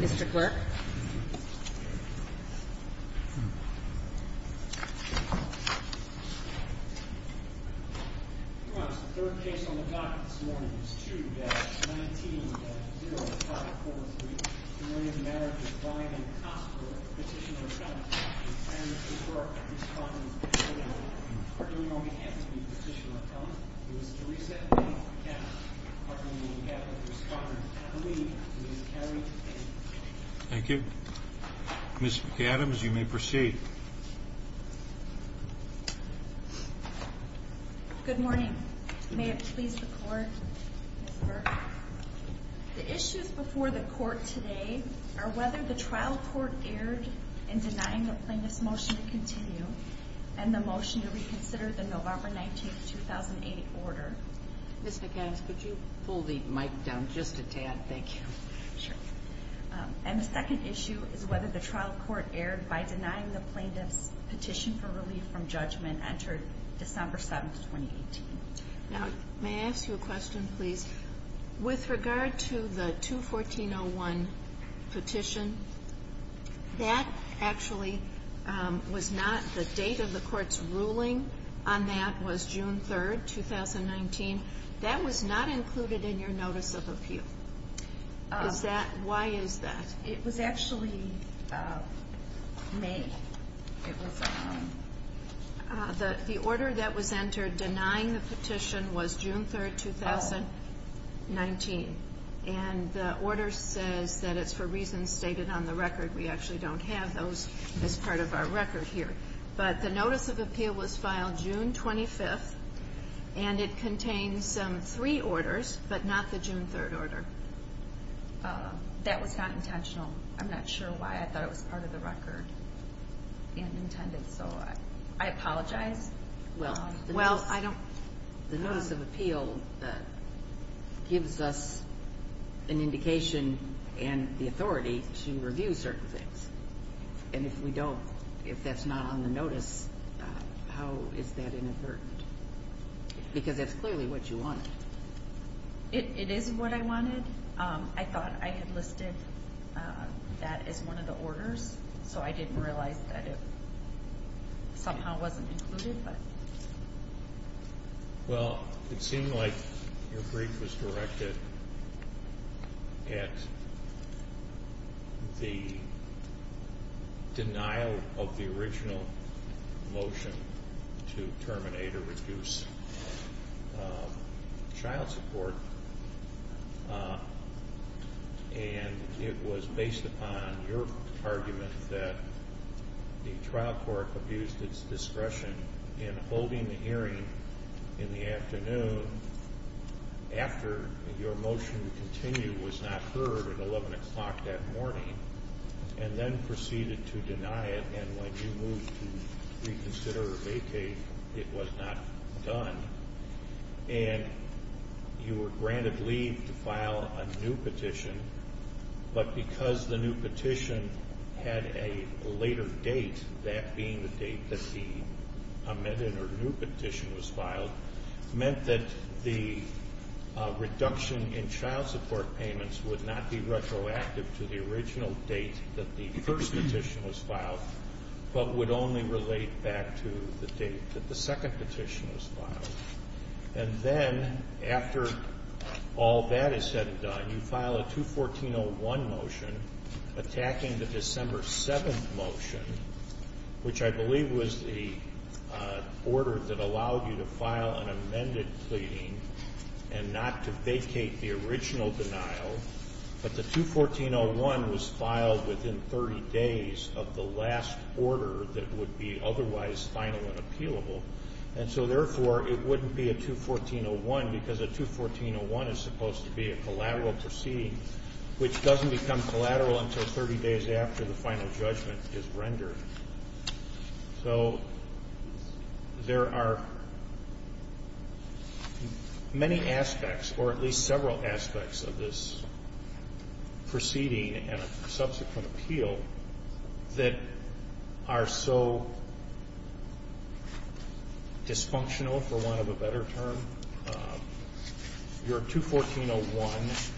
Mr. Clerk Your Honor, the third case on the docket this morning is 2-19-0543 Marriage of Brian Cosgrove, Petitioner of Cunningham, and his work in Scotland Thank you. Ms. McAdams, you may proceed. Good morning. May it please the Court, Mr. Clerk. The issues before the Court today are whether the trial court erred in denying the plaintiff's motion to continue and the motion to reconsider the November 19, 2008, order. Ms. McAdams, could you pull the mic down just a tad? Thank you. And the second issue is whether the trial court erred by denying the plaintiff's petition for relief from judgment entered December 7, 2018. Now, may I ask you a question, please? With regard to the 2-14-01 petition, that actually was not the date of the Court's ruling on that was June 3, 2019. That was not included in your notice of appeal. Why is that? It was actually May. The order that was entered denying the petition was June 3, 2019. And the order says that it's for reasons stated on the record. We actually don't have those as part of our record here. But the notice of appeal was filed June 25, and it contains three orders, but not the June 3 order. That was not intentional. I'm not sure why. I thought it was part of the record and intended, so I apologize. Well, the notice of appeal gives us an indication and the authority to review certain things. And if we don't, if that's not on the notice, how is that inadvertent? Because that's clearly what you wanted. It is what I wanted. I thought I had listed that as one of the orders, so I didn't realize that it somehow wasn't included. Well, it seemed like your brief was directed at the denial of the original motion to terminate or reduce child support. And it was based upon your argument that the trial court abused its discretion in holding the hearing in the afternoon after your motion to continue was not heard at 11 o'clock that morning and then proceeded to deny it. And when you moved to reconsider or vacate, it was not done. And you were granted leave to file a new petition, but because the new petition had a later date, that being the date that the amended or new petition was filed, meant that the reduction in child support payments would not be retroactive to the original date that the first petition was filed, but would only relate back to the date that the second petition was filed. And then after all that is said and done, you file a 214-01 motion attacking the December 7th motion, which I believe was the order that allowed you to file an amended pleading and not to vacate the original denial. But the 214-01 was filed within 30 days of the last order that would be otherwise final and appealable. And so, therefore, it wouldn't be a 214-01 because a 214-01 is supposed to be a collateral proceeding, which doesn't become collateral until 30 days after the final judgment is rendered. So there are many aspects, or at least several aspects, of this proceeding and subsequent appeal that are so dysfunctional, for want of a better term. Your 214-01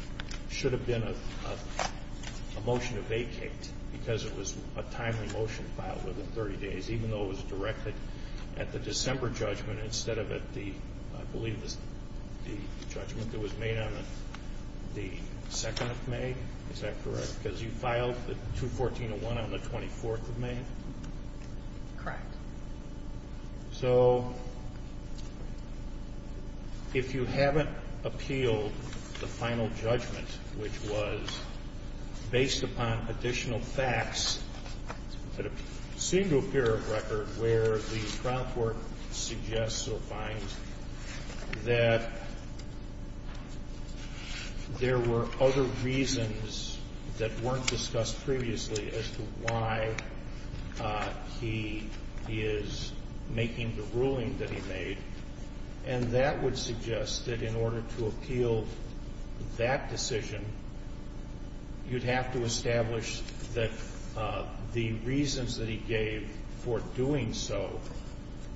should have been a motion to vacate because it was a timely motion filed within 30 days, even though it was directed at the December judgment instead of at the, I believe it was the judgment that was made on the 2nd of May? Is that correct? Because you filed the 214-01 on the 24th of May? Correct. So if you haven't appealed the final judgment, which was based upon additional facts that seem to appear on record where the trial court suggests or finds that there were other reasons that weren't discussed previously as to why he is making the ruling that he made, and that would suggest that in order to appeal that decision, you'd have to establish that the reasons that he gave for doing so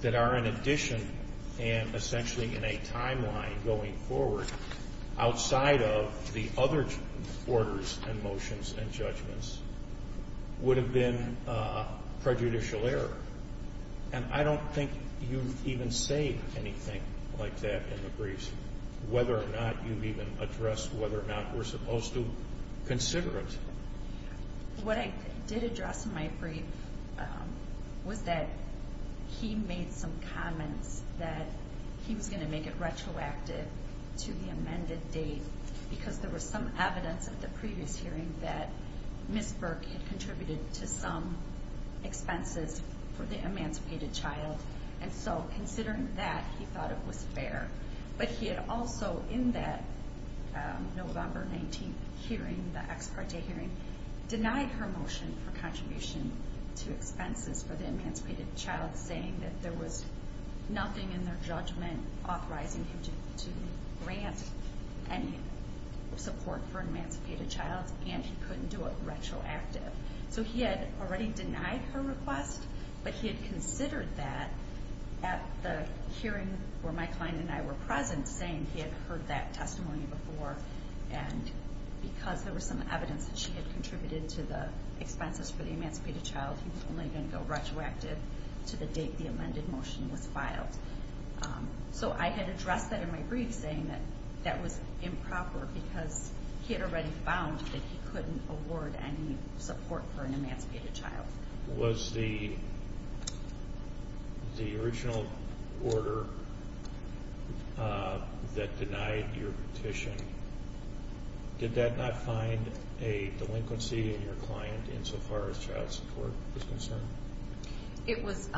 that are in addition and essentially in a timeline going forward outside of the other orders and motions and judgments would have been prejudicial error. And I don't think you even say anything like that in the briefs, whether or not you've even addressed whether or not we're supposed to consider it. What I did address in my brief was that he made some comments that he was going to make it retroactive to the amended date because there was some evidence at the previous hearing that Ms. Burke had contributed to some expenses for the emancipated child. And so considering that, he thought it was fair. But he had also in that November 19th hearing, the ex parte hearing, denied her motion for contribution to expenses for the emancipated child, saying that there was nothing in their judgment authorizing him to grant any support for an emancipated child, and he couldn't do it retroactive. So he had already denied her request, but he had considered that at the hearing where my client and I were present, saying he had heard that testimony before, and because there was some evidence that she had contributed to the expenses for the emancipated child, he was only going to go retroactive to the date the amended motion was filed. So I had addressed that in my brief, saying that that was improper because he had already found that he couldn't award any support for an emancipated child. Was the original order that denied your petition, did that not find a delinquency in your client insofar as child support was concerned? It was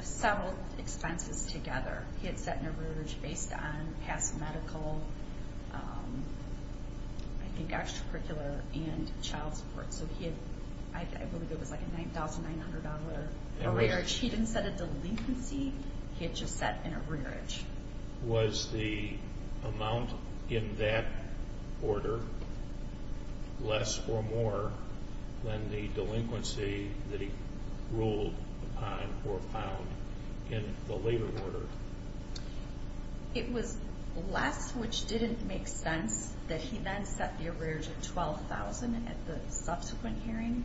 several expenses together. He had set an average based on past medical, I think, extracurricular and child support. So I believe it was like a $9,900 average. He didn't set a delinquency. He had just set an average. Was the amount in that order less or more than the delinquency that he ruled upon or found in the later order? It was less, which didn't make sense that he then set the average of $12,000 at the subsequent hearing.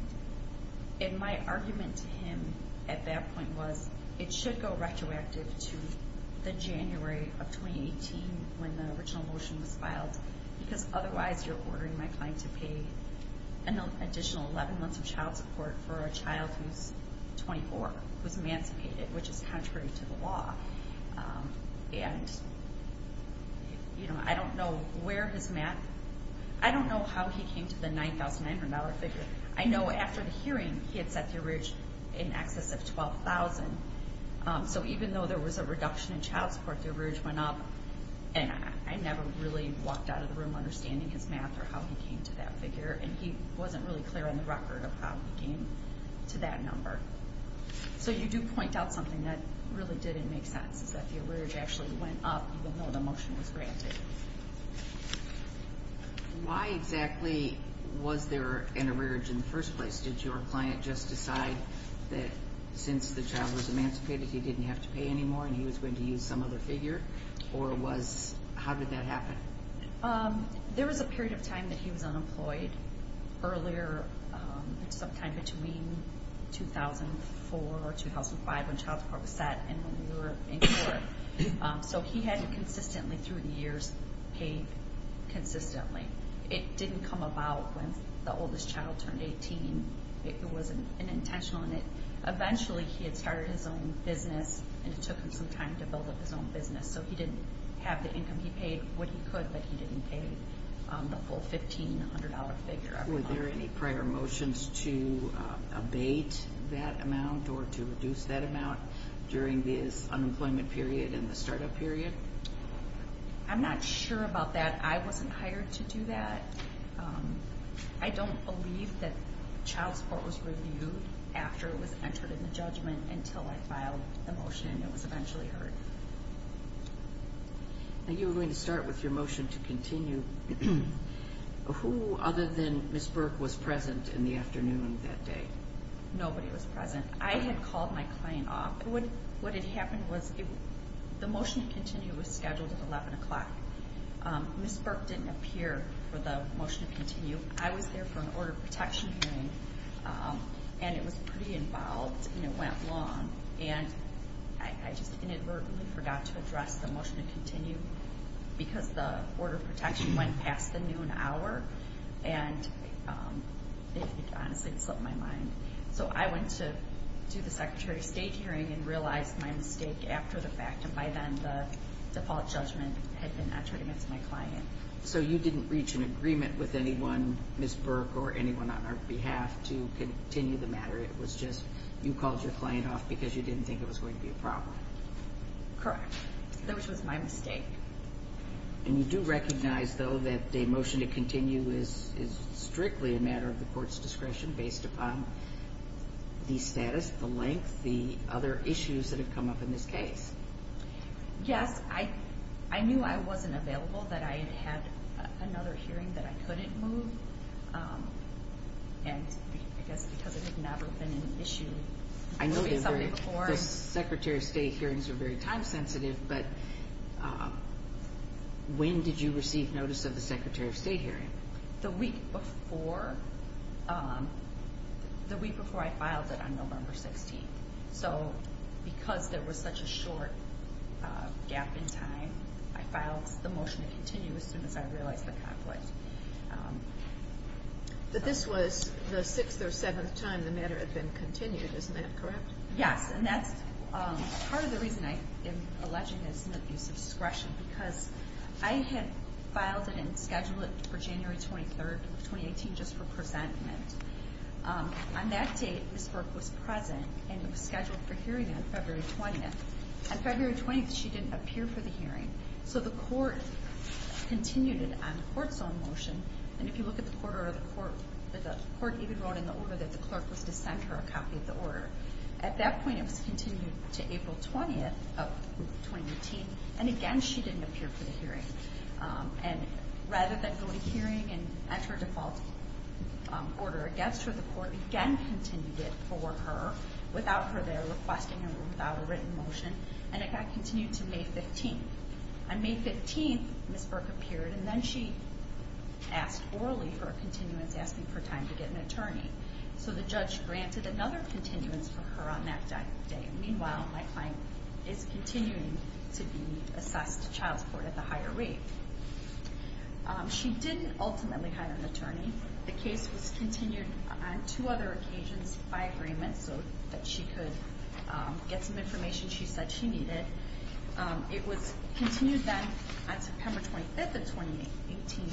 And my argument to him at that point was it should go retroactive to the January of 2018 when the original motion was filed because otherwise you're ordering my client to pay an additional 11 months of child support for a child who's 24, who's emancipated, which is contrary to the law. And I don't know where his math, I don't know how he came to the $9,900 figure. I know after the hearing he had set the average in excess of $12,000. So even though there was a reduction in child support, the average went up. And I never really walked out of the room understanding his math or how he came to that figure. And he wasn't really clear on the record of how he came to that number. So you do point out something that really didn't make sense is that the average actually went up even though the motion was granted. Why exactly was there an average in the first place? Did your client just decide that since the child was emancipated he didn't have to pay anymore and he was going to use some other figure? Or how did that happen? There was a period of time that he was unemployed. Earlier, sometime between 2004 or 2005 when child support was set and when we were in court. So he had consistently through the years paid consistently. It didn't come about when the oldest child turned 18. It wasn't intentional. Eventually he had started his own business and it took him some time to build up his own business. So he didn't have the income he paid when he could, but he didn't pay the full $1,500 figure every month. Were there any prior motions to abate that amount or to reduce that amount during this unemployment period and the startup period? I'm not sure about that. I wasn't hired to do that. I don't believe that child support was reviewed after it was entered in the judgment until I filed the motion and it was eventually heard. You were going to start with your motion to continue. Who other than Ms. Burke was present in the afternoon that day? Nobody was present. I had called my client off. What had happened was the motion to continue was scheduled at 11 o'clock. Ms. Burke didn't appear for the motion to continue. I was there for an order of protection hearing and it was pretty involved and it went long. I just inadvertently forgot to address the motion to continue because the order of protection went past the noon hour. It honestly slipped my mind. So I went to the Secretary of State hearing and realized my mistake after the fact. By then the default judgment had been entered against my client. So you didn't reach an agreement with anyone, Ms. Burke or anyone on our behalf, to continue the matter. It was just you called your client off because you didn't think it was going to be a problem. Correct. That was my mistake. And you do recognize, though, that the motion to continue is strictly a matter of the court's discretion based upon the status, the length, the other issues that have come up in this case. Yes. I knew I wasn't available, that I had had another hearing that I couldn't move. And I guess because it had never been an issue. I know the Secretary of State hearings are very time sensitive, but when did you receive notice of the Secretary of State hearing? The week before I filed it on November 16th. So because there was such a short gap in time, I filed the motion to continue as soon as I realized the conflict. But this was the sixth or seventh time the matter had been continued, isn't that correct? Yes. And that's part of the reason I am alleging it's an abuse of discretion, because I had filed it and scheduled it for January 23rd, 2018, just for presentment. On that date, Ms. Burke was present and was scheduled for hearing on February 20th. On February 20th, she didn't appear for the hearing. So the court continued it on the court's own motion. And if you look at the order, the court even wrote in the order that the clerk was to send her a copy of the order. At that point, it was continued to April 20th of 2018. And again, she didn't appear for the hearing. And rather than go to hearing and enter a default order against her, the court again continued it for her without her there requesting it or without a written motion. And it got continued to May 15th. On May 15th, Ms. Burke appeared, and then she asked orally for a continuance, asking for time to get an attorney. So the judge granted another continuance for her on that day. Meanwhile, my client is continuing to be assessed to child support at the higher rate. She didn't ultimately hire an attorney. The case was continued on two other occasions by agreement so that she could get some information she said she needed. It was continued then on September 25th of 2018.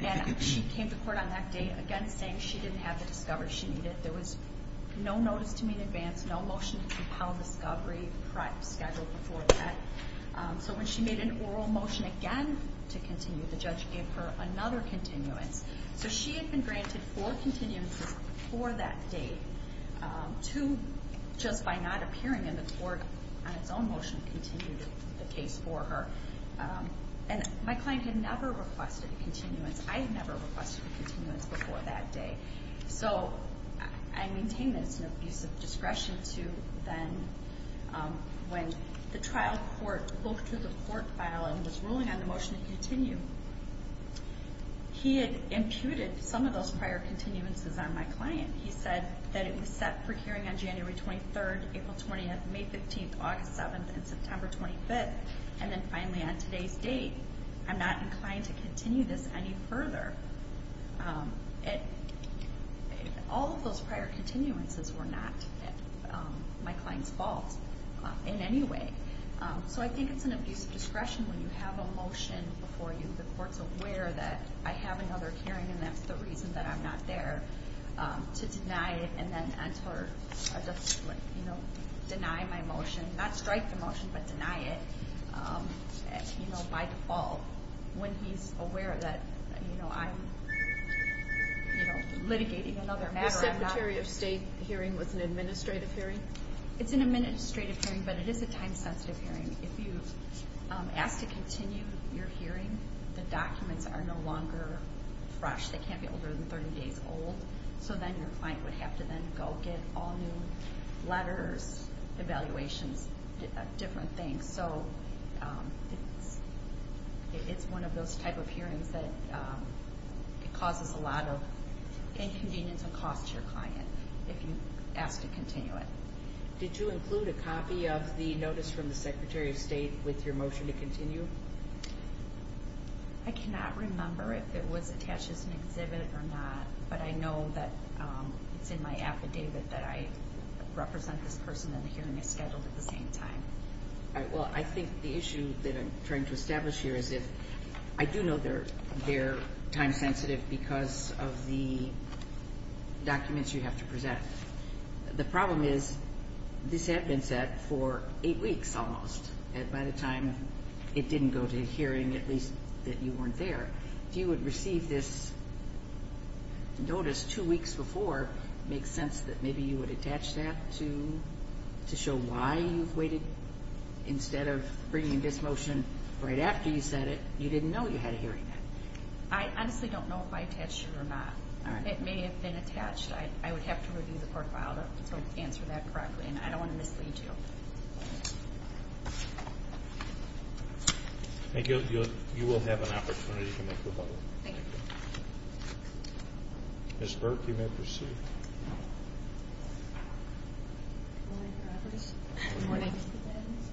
And she came to court on that day again saying she didn't have the discovery she needed. There was no notice to meet in advance, no motion to compel discovery scheduled before that. So when she made an oral motion again to continue, the judge gave her another continuance. So she had been granted four continuances before that date. Two, just by not appearing in the court on its own motion, continued the case for her. And my client had never requested a continuance. I had never requested a continuance before that day. So I maintain that it's an abuse of discretion to then, when the trial court looked through the court file and was ruling on the motion to continue, he had imputed some of those prior continuances on my client. He said that it was set for hearing on January 23rd, April 20th, May 15th, August 7th, and September 25th. And then finally, on today's date, I'm not inclined to continue this any further. And all of those prior continuances were not my client's fault in any way. So I think it's an abuse of discretion when you have a motion before you. The court's aware that I have another hearing and that's the reason that I'm not there to deny it and then enter a dispute, you know, deny my motion. Not strike the motion, but deny it, you know, by default. When he's aware that, you know, I'm, you know, litigating another matter, I'm not... The Secretary of State hearing was an administrative hearing? It's an administrative hearing, but it is a time-sensitive hearing. If you ask to continue your hearing, the documents are no longer fresh. They can't be older than 30 days old. So then your client would have to then go get all new letters, evaluations, different things. So it's one of those type of hearings that it causes a lot of inconvenience and cost to your client if you ask to continue it. Did you include a copy of the notice from the Secretary of State with your motion to continue? I cannot remember if it was attached as an exhibit or not, but I know that it's in my affidavit that I represent this person and the hearing is scheduled at the same time. All right. Well, I think the issue that I'm trying to establish here is that I do know they're time-sensitive because of the documents you have to present. The problem is this had been set for eight weeks almost, and by the time it didn't go to hearing, at least, that you weren't there. If you had received this notice two weeks before, it makes sense that maybe you would attach that to show why you've waited. Instead of bringing this motion right after you said it, you didn't know you had a hearing. I honestly don't know if I attached it or not. It may have been attached. I would have to review the profile to answer that correctly, and I don't want to mislead you. I think you will have an opportunity to make the point. Thank you. Ms. Burke, you may proceed. Good morning, Mr. Adams.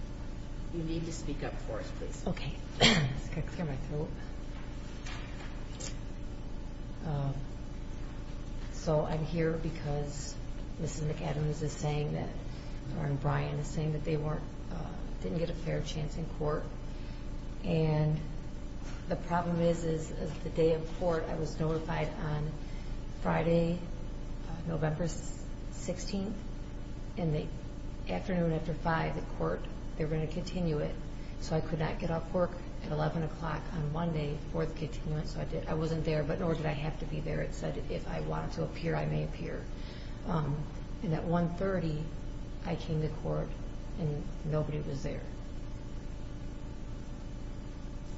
You need to speak up for us, please. Okay. I've got to clear my throat. So I'm here because Mrs. McAdams is saying that, or Brian is saying, that they didn't get a fair chance in court. And the problem is, is the day of court, I was notified on Friday, November 16th, and the afternoon after 5 at court, they were going to continue it, so I could not get off work at 11 o'clock on Monday for the continuance. I wasn't there, but nor did I have to be there. It said if I wanted to appear, I may appear. And at 1.30, I came to court, and nobody was there.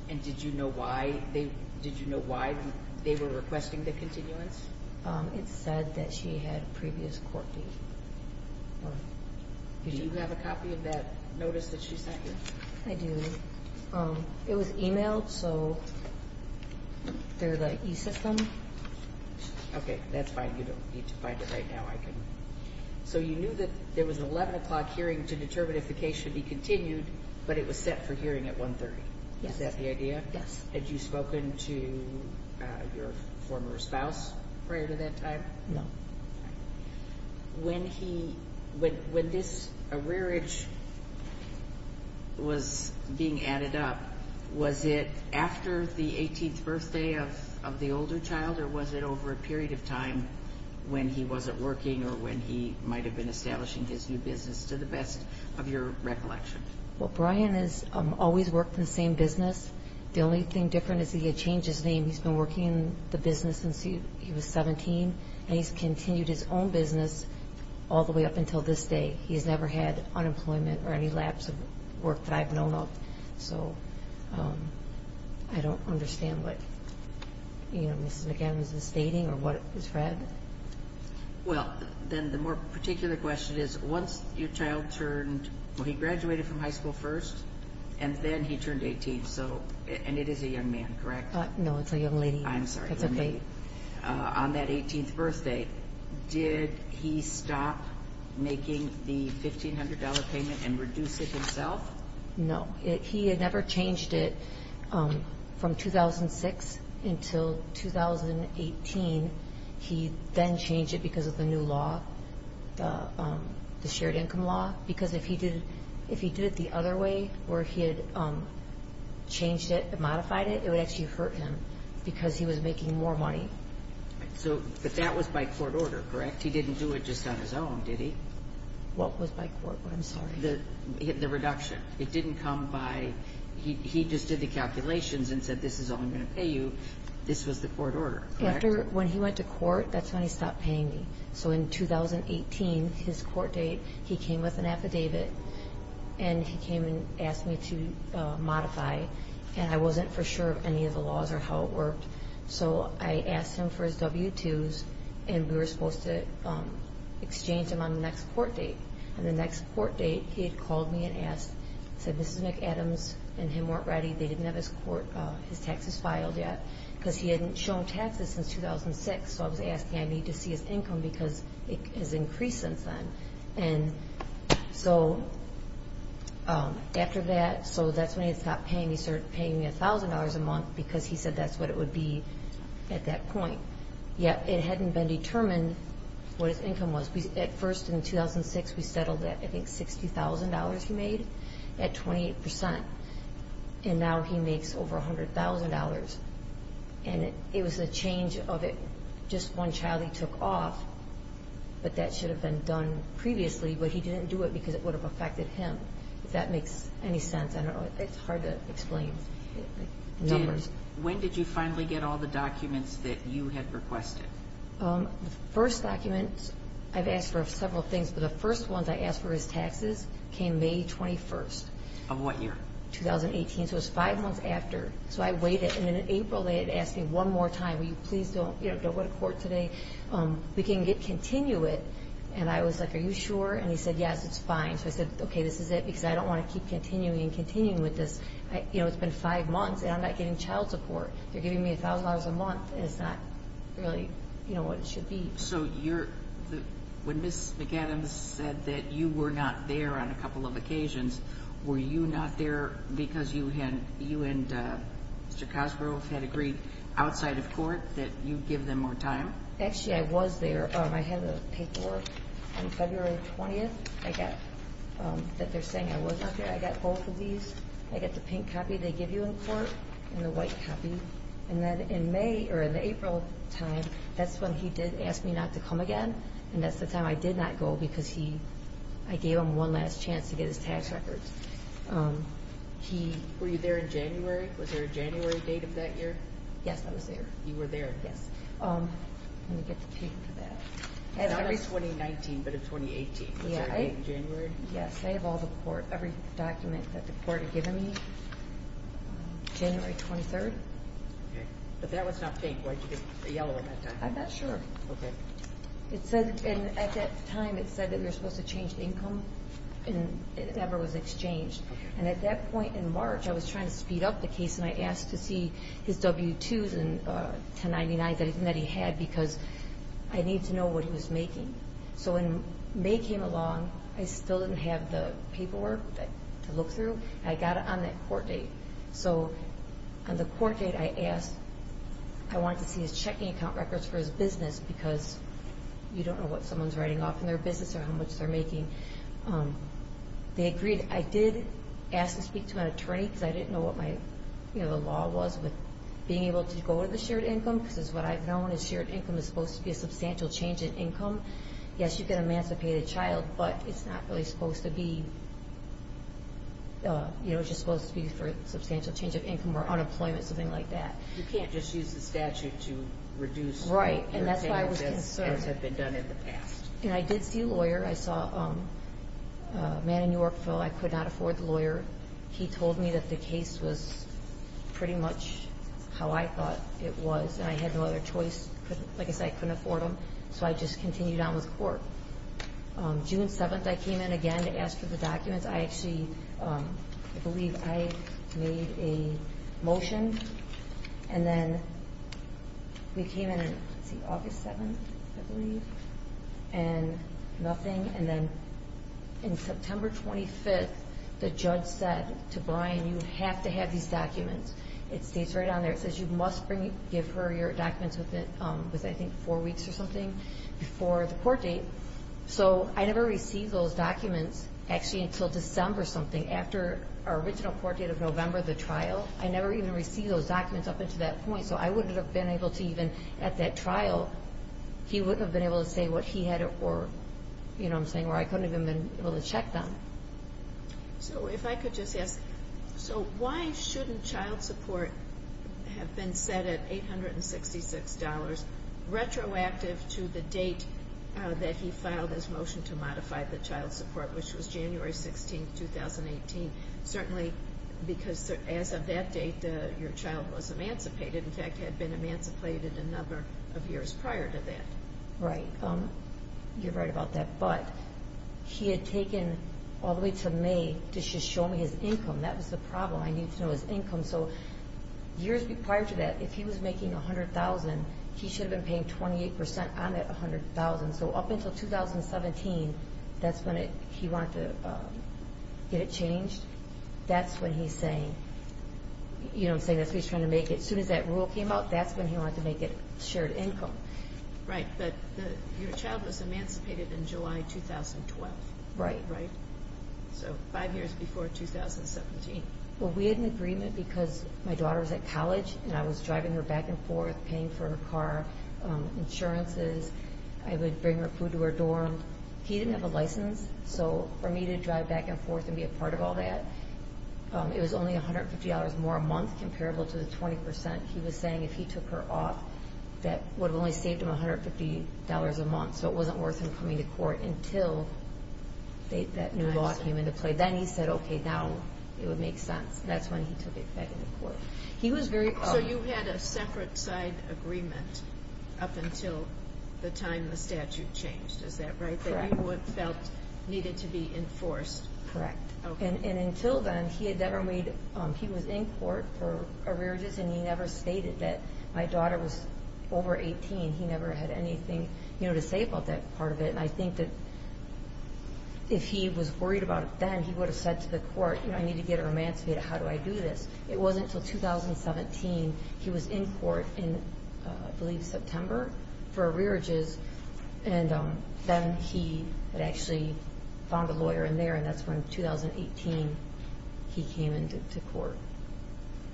And did you know why they were requesting the continuance? It said that she had a previous court date. Do you have a copy of that notice that she sent you? I do. It was emailed, so they're the e-system. Okay. That's fine. You don't need to find it right now. So you knew that there was an 11 o'clock hearing to determine if the case should be continued, but it was set for hearing at 1.30. Is that the idea? Yes. Had you spoken to your former spouse prior to that time? No. When this rearage was being added up, was it after the 18th birthday of the older child, or was it over a period of time when he wasn't working or when he might have been establishing his new business, to the best of your recollection? Well, Brian has always worked in the same business. The only thing different is he had changed his name. He's been working in the business since he was 17, and he's continued his own business all the way up until this day. He's never had unemployment or any lapse of work that I've known of. So I don't understand what Mrs. McAdams is stating or what it was read. Well, then the more particular question is, once your child turned – well, he graduated from high school first, and then he turned 18. And it is a young man, correct? No, it's a young lady. I'm sorry. That's okay. On that 18th birthday, did he stop making the $1,500 payment and reduce it himself? No. He had never changed it from 2006 until 2018. He then changed it because of the new law, the shared income law, because if he did it the other way where he had changed it, modified it, it would actually hurt him because he was making more money. But that was by court order, correct? He didn't do it just on his own, did he? What was by court order? I'm sorry. The reduction. It didn't come by – he just did the calculations and said, this is all I'm going to pay you. This was the court order, correct? When he went to court, that's when he stopped paying me. So in 2018, his court date, he came with an affidavit, and he came and asked me to modify. And I wasn't for sure of any of the laws or how it worked. So I asked him for his W-2s, and we were supposed to exchange them on the next court date. And the next court date, he had called me and said, Mrs. McAdams and him weren't ready. They didn't have his taxes filed yet because he hadn't shown taxes since 2006. So I was asking, I need to see his income because it has increased since then. And so after that – so that's when he stopped paying me. He started paying me $1,000 a month because he said that's what it would be at that point. Yet it hadn't been determined what his income was. At first, in 2006, we settled at, I think, $60,000 he made at 28%. And now he makes over $100,000. And it was a change of – just one child he took off, but that should have been done previously, but he didn't do it because it would have affected him, if that makes any sense. I don't know. It's hard to explain numbers. When did you finally get all the documents that you had requested? The first document, I've asked for several things, but the first ones I asked for his taxes came May 21st. Of what year? 2018, so it was five months after. So I waited. And then in April, they had asked me one more time, will you please don't go to court today? We can continue it. And I was like, are you sure? And he said, yes, it's fine. So I said, okay, this is it because I don't want to keep continuing and continuing with this. It's been five months, and I'm not getting child support. They're giving me $1,000 a month, and it's not really what it should be. So when Ms. McAdams said that you were not there on a couple of occasions, were you not there because you and Mr. Cosgrove had agreed outside of court that you'd give them more time? Actually, I was there. I had a paperwork on February 20th that they're saying I was not there. I got both of these. I got the pink copy they give you in court and the white copy. And then in April time, that's when he did ask me not to come again, and that's the time I did not go because I gave him one last chance to get his tax records. Were you there in January? Was there a January date of that year? Yes, I was there. You were there. Yes. Let me get the pink for that. Not of 2019, but of 2018. Was there a date in January? Yes. I have all the court, every document that the court had given me, January 23rd. Okay. But that was not pink. Why did you get the yellow at that time? I'm not sure. Okay. At that time, it said that we were supposed to change income, and it never was exchanged. And at that point in March, I was trying to speed up the case, and I asked to see his W-2s and 1099s that he had because I needed to know what he was making. So when May came along, I still didn't have the paperwork to look through. I got it on that court date. So on the court date, I asked. I wanted to see his checking account records for his business because you don't know what someone's writing off in their business or how much they're making. They agreed. I did ask to speak to an attorney because I didn't know what the law was with being able to go to the shared income because what I've known is shared income is supposed to be a substantial change in income. Yes, you can emancipate a child, but it's not really supposed to be. You know, it's just supposed to be for a substantial change of income or unemployment, something like that. You can't just use the statute to reduce what your payments have been done in the past. Right, and that's why I was concerned. And I did see a lawyer. I saw a man in Yorkville. I could not afford the lawyer. He told me that the case was pretty much how I thought it was, and I had no other choice. Like I said, I couldn't afford him, so I just continued on with court. June 7th, I came in again to ask for the documents. I actually believe I made a motion, and then we came in on August 7th, I believe, and nothing. And then on September 25th, the judge said to Brian, you have to have these documents. It states right on there. It says you must give her your documents within, I think, four weeks or something before the court date. So I never received those documents, actually, until December something, after our original court date of November, the trial. I never even received those documents up until that point, so I wouldn't have been able to even, at that trial, he wouldn't have been able to say what he had or, you know what I'm saying, where I couldn't have even been able to check them. So if I could just ask, so why shouldn't child support have been set at $866, retroactive to the date that he filed his motion to modify the child support, which was January 16th, 2018? Certainly, because as of that date, your child was emancipated, in fact, had been emancipated a number of years prior to that. Right, you're right about that. But he had taken all the way to May to just show me his income. That was the problem. I needed to know his income. So years prior to that, if he was making $100,000, he should have been paying 28% on that $100,000. So up until 2017, that's when he wanted to get it changed. That's when he's saying, you know what I'm saying, that's what he's trying to make it. As soon as that rule came out, that's when he wanted to make it shared income. Right, but your child was emancipated in July 2012. Right. So five years before 2017. Well, we had an agreement because my daughter was at college, and I was driving her back and forth paying for her car, insurances. I would bring her food to her dorm. He didn't have a license, so for me to drive back and forth and be a part of all that, it was only $150 more a month, comparable to the 20%. He was saying if he took her off, that would have only saved him $150 a month. So it wasn't worth him coming to court until that new law came into play. Then he said, okay, now it would make sense. That's when he took it back into court. So you had a separate side agreement up until the time the statute changed, is that right? Correct. That you felt needed to be enforced. Correct. Until then, he was in court for arrearages, and he never stated that. My daughter was over 18. He never had anything to say about that part of it. I think that if he was worried about it then, he would have said to the court, I need to get her emancipated. How do I do this? It wasn't until 2017. He was in court in, I believe, September for arrearages. Then he had actually found a lawyer in there, and that's when, 2018, he came into court.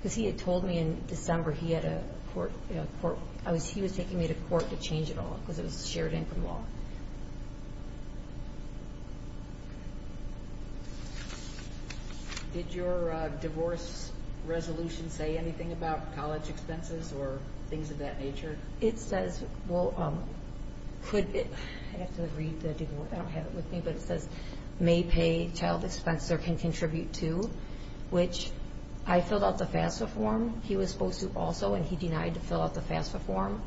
Because he had told me in December he was taking me to court to change it all, because it was shared income law. Did your divorce resolution say anything about college expenses or things of that nature? It says, well, I have to read the divorce. I don't have it with me, but it says, may pay child expense or can contribute to, which I filled out the FAFSA form. He was supposed to also, and he denied to fill out the FAFSA form.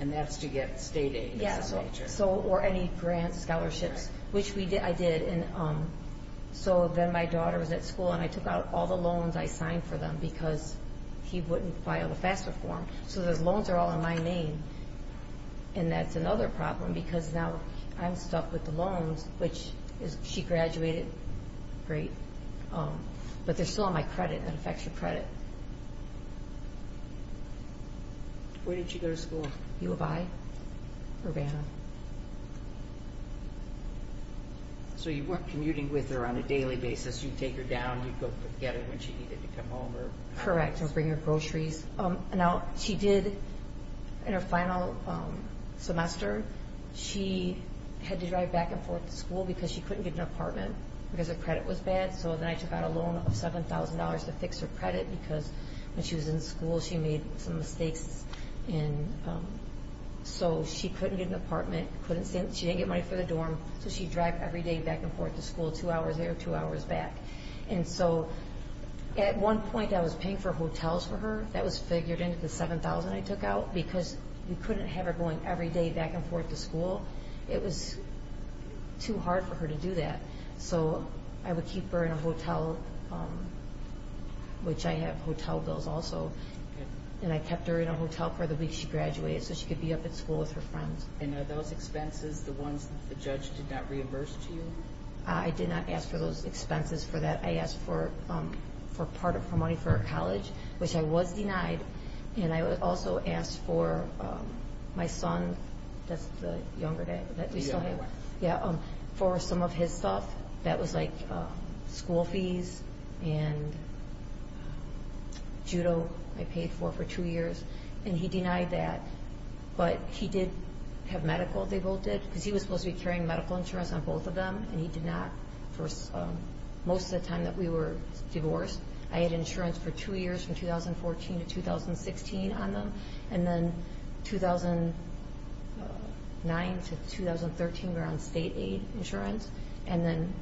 And that's to get state aid. Yes, or any grant scholarships, which I did. So then my daughter was at school, and I took out all the loans I signed for them because he wouldn't file the FAFSA form. So those loans are all in my name. And that's another problem because now I'm stuck with the loans, which she graduated. Great. But they're still on my credit. That affects your credit. Where did she go to school? U of I, Urbana. So you weren't commuting with her on a daily basis. You'd take her down. You'd go get her when she needed to come home. Correct, or bring her groceries. Now, she did, in her final semester, she had to drive back and forth to school because she couldn't get an apartment because her credit was bad. So then I took out a loan of $7,000 to fix her credit because when she was in school, she made some mistakes. So she couldn't get an apartment. She didn't get money for the dorm, so she'd drive every day back and forth to school, two hours there, two hours back. And so at one point, I was paying for hotels for her. That was figured into the $7,000 I took out because we couldn't have her going every day back and forth to school. It was too hard for her to do that. So I would keep her in a hotel, which I have hotel bills also, and I kept her in a hotel for the week she graduated so she could be up at school with her friends. And are those expenses the ones that the judge did not reimburse to you? I did not ask for those expenses for that. I asked for part of her money for college, which I was denied. And I also asked for my son. That's the younger dad that we still have. Yeah. For some of his stuff. That was like school fees and judo I paid for for two years. And he denied that. But he did have medical, they both did, because he was supposed to be carrying medical insurance on both of them, and he did not for most of the time that we were divorced. I had insurance for two years from 2014 to 2016 on them, and then 2009 to 2013 we were on state-aid insurance. And then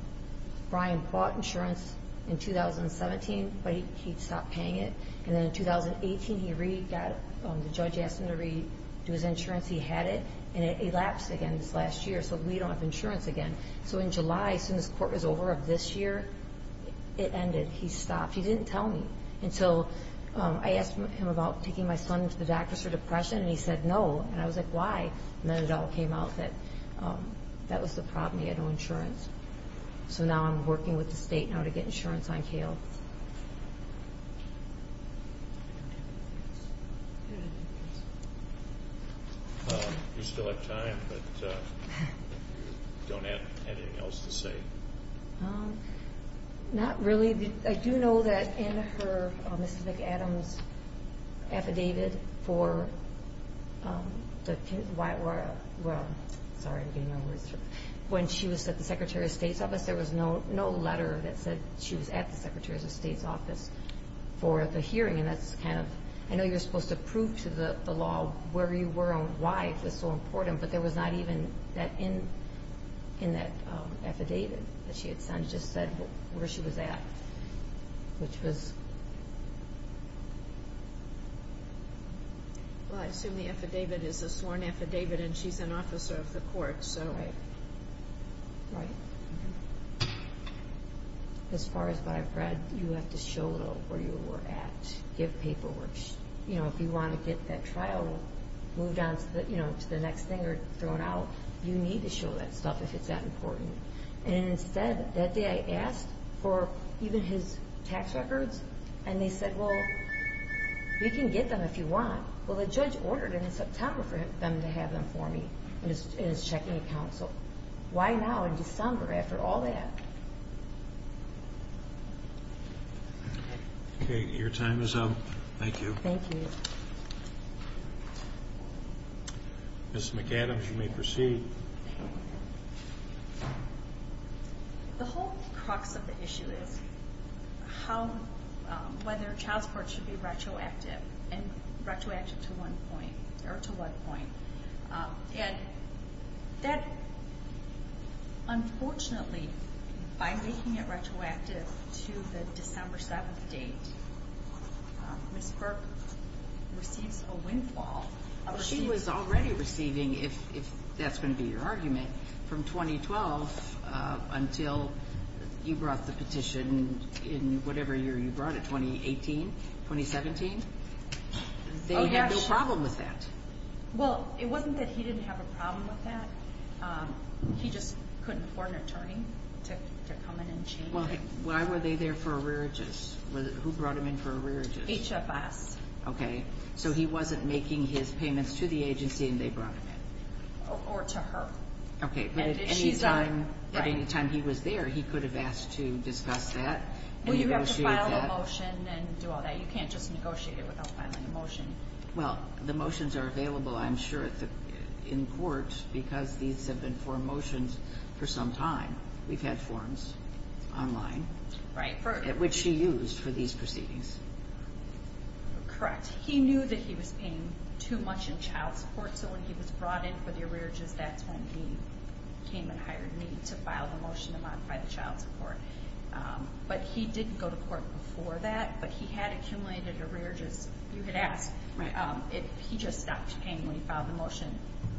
Brian bought insurance in 2017, but he stopped paying it. And then in 2018, the judge asked him to redo his insurance. He had it, and it elapsed again this last year, so we don't have insurance again. So in July, as soon as court was over of this year, it ended. He stopped. He didn't tell me until I asked him about taking my son to the doctor's for depression, and he said no, and I was like, why? And then it all came out that that was the problem, he had no insurance. So now I'm working with the state now to get insurance on Cale. You still have time, but you don't have anything else to say? Not really. I do know that in her, Mrs. McAdams affidavit for the Whitewater, when she was at the Secretary of State's office, there was no letter that said she was at the Secretary of State's office for the hearing, and that's kind of, I know you're supposed to prove to the law where you were and why it was so important, but there was not even that in that affidavit that she had sent. It just said where she was at, which was... Well, I assume the affidavit is a sworn affidavit, and she's an officer of the court, so... Right. As far as what I've read, you have to show where you were at, give paperwork. If you want to get that trial moved on to the next thing or thrown out, you need to show that stuff if it's that important. And instead, that day I asked for even his tax records, and they said, well, you can get them if you want. Well, the judge ordered in September for them to have them for me in his checking account, so why now in December after all that? Okay, your time is up. Thank you. Thank you. Mrs. McAdams, you may proceed. Thank you. The whole crux of the issue is whether child support should be retroactive, and retroactive to one point, or to one point. And that, unfortunately, by making it retroactive to the December 7th date, Ms. Burke receives a windfall. She was already receiving, if that's going to be your argument, from 2012 until you brought the petition in whatever year you brought it, 2018, 2017? They had no problem with that. Well, it wasn't that he didn't have a problem with that. He just couldn't afford an attorney to come in and change it. Why were they there for arrearages? Who brought them in for arrearages? HFS. Okay, so he wasn't making his payments to the agency and they brought them in. Or to her. Okay, but at any time he was there, he could have asked to discuss that. Well, you have to file a motion and do all that. You can't just negotiate it without filing a motion. Well, the motions are available, I'm sure, in court because these have been for motions for some time. We've had forms online, which he used for these proceedings. Correct. He knew that he was paying too much in child support, so when he was brought in for the arrearages, that's when he came and hired me to file the motion to modify the child support. But he didn't go to court before that, but he had accumulated arrearages. You could ask if he just stopped paying when he filed the motion.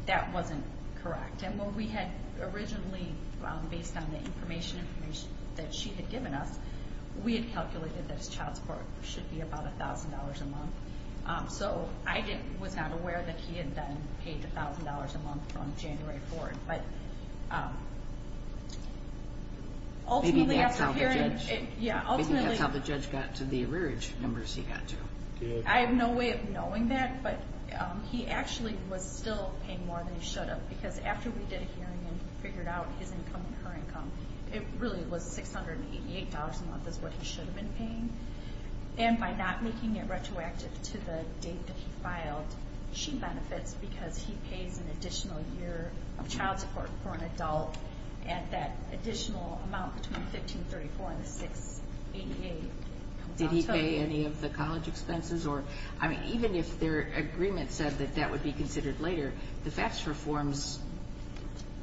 That wasn't correct. And when we had originally, based on the information that she had given us, we had calculated that his child support should be about $1,000 a month. So I was not aware that he had then paid $1,000 a month from January forward. Maybe that's how the judge got to the arrearage numbers he got to. I have no way of knowing that, but he actually was still paying more than he should have because after we did a hearing and figured out his income and her income, it really was $688 a month is what he should have been paying. And by not making it retroactive to the date that he filed, she benefits because he pays an additional year of child support for an adult at that additional amount between $1,534 and $688. Did he pay any of the college expenses? Even if their agreement said that that would be considered later, the FACTS reforms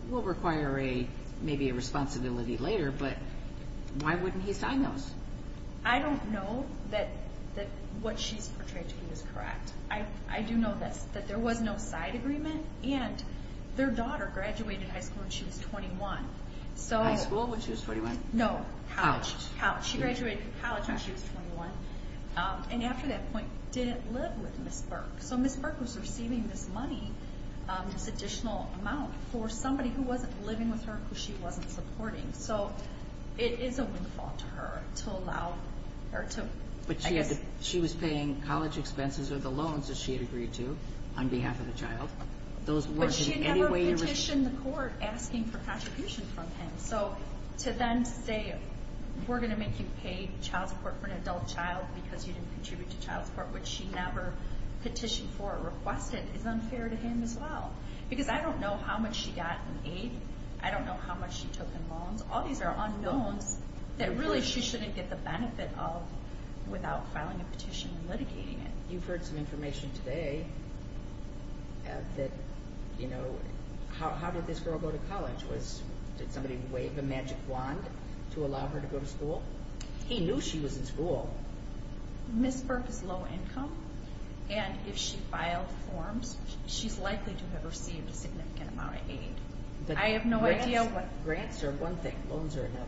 will require maybe a responsibility later, but why wouldn't he sign those? I don't know that what she's portrayed to be is correct. I do know that there was no side agreement, and their daughter graduated high school when she was 21. High school when she was 21? No, college. College. She graduated college when she was 21. And after that point, didn't live with Ms. Burke. So Ms. Burke was receiving this money, this additional amount, for somebody who wasn't living with her, who she wasn't supporting. So it is a windfall to her to allow her to. But she was paying college expenses or the loans that she had agreed to on behalf of the child. But she never petitioned the court asking for contribution from him. So to then say, we're going to make you pay child support for an adult child because you didn't contribute to child support, which she never petitioned for or requested, is unfair to him as well. Because I don't know how much she got in aid. I don't know how much she took in loans. All these are unknowns that really she shouldn't get the benefit of without filing a petition and litigating it. You've heard some information today that, you know, how did this girl go to college? Did somebody wave a magic wand to allow her to go to school? He knew she was in school. Ms. Burke is low income. And if she filed forms, she's likely to have received a significant amount of aid. I have no idea what. Grants are one thing. Loans are another.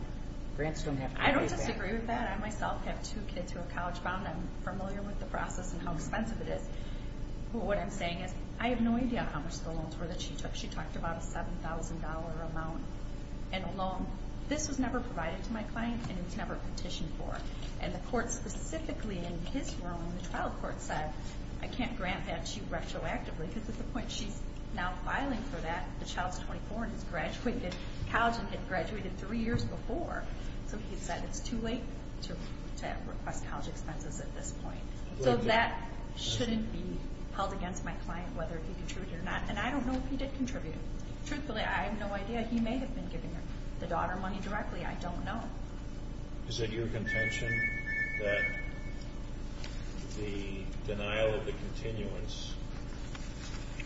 I don't disagree with that. I myself have two kids who are college-bound. I'm familiar with the process and how expensive it is. But what I'm saying is I have no idea how much the loans were that she took. She talked about a $7,000 amount in a loan. This was never provided to my client, and it was never petitioned for. And the court specifically in his ruling, the trial court, said I can't grant that to you retroactively because at the point she's now filing for that, the child's 24 and has graduated college and had graduated three years before. So he said it's too late to request college expenses at this point. So that shouldn't be held against my client, whether he contributed or not. And I don't know if he did contribute. Truthfully, I have no idea. He may have been giving her the daughter money directly. I don't know. Is it your contention that the denial of the continuance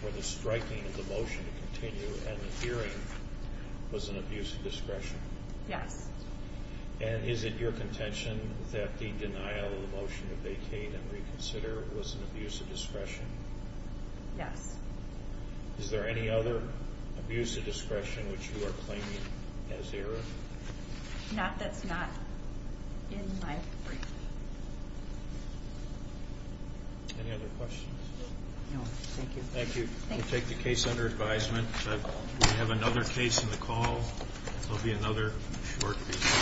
or the striking of the motion to continue and the hearing was an abuse of discretion? Yes. And is it your contention that the denial of the motion to vacate and reconsider was an abuse of discretion? Yes. Is there any other abuse of discretion which you are claiming as error? That's not in my brief. Any other questions? No. Thank you. Thank you. We'll take the case under advisement. We have another case on the call. There will be another short piece.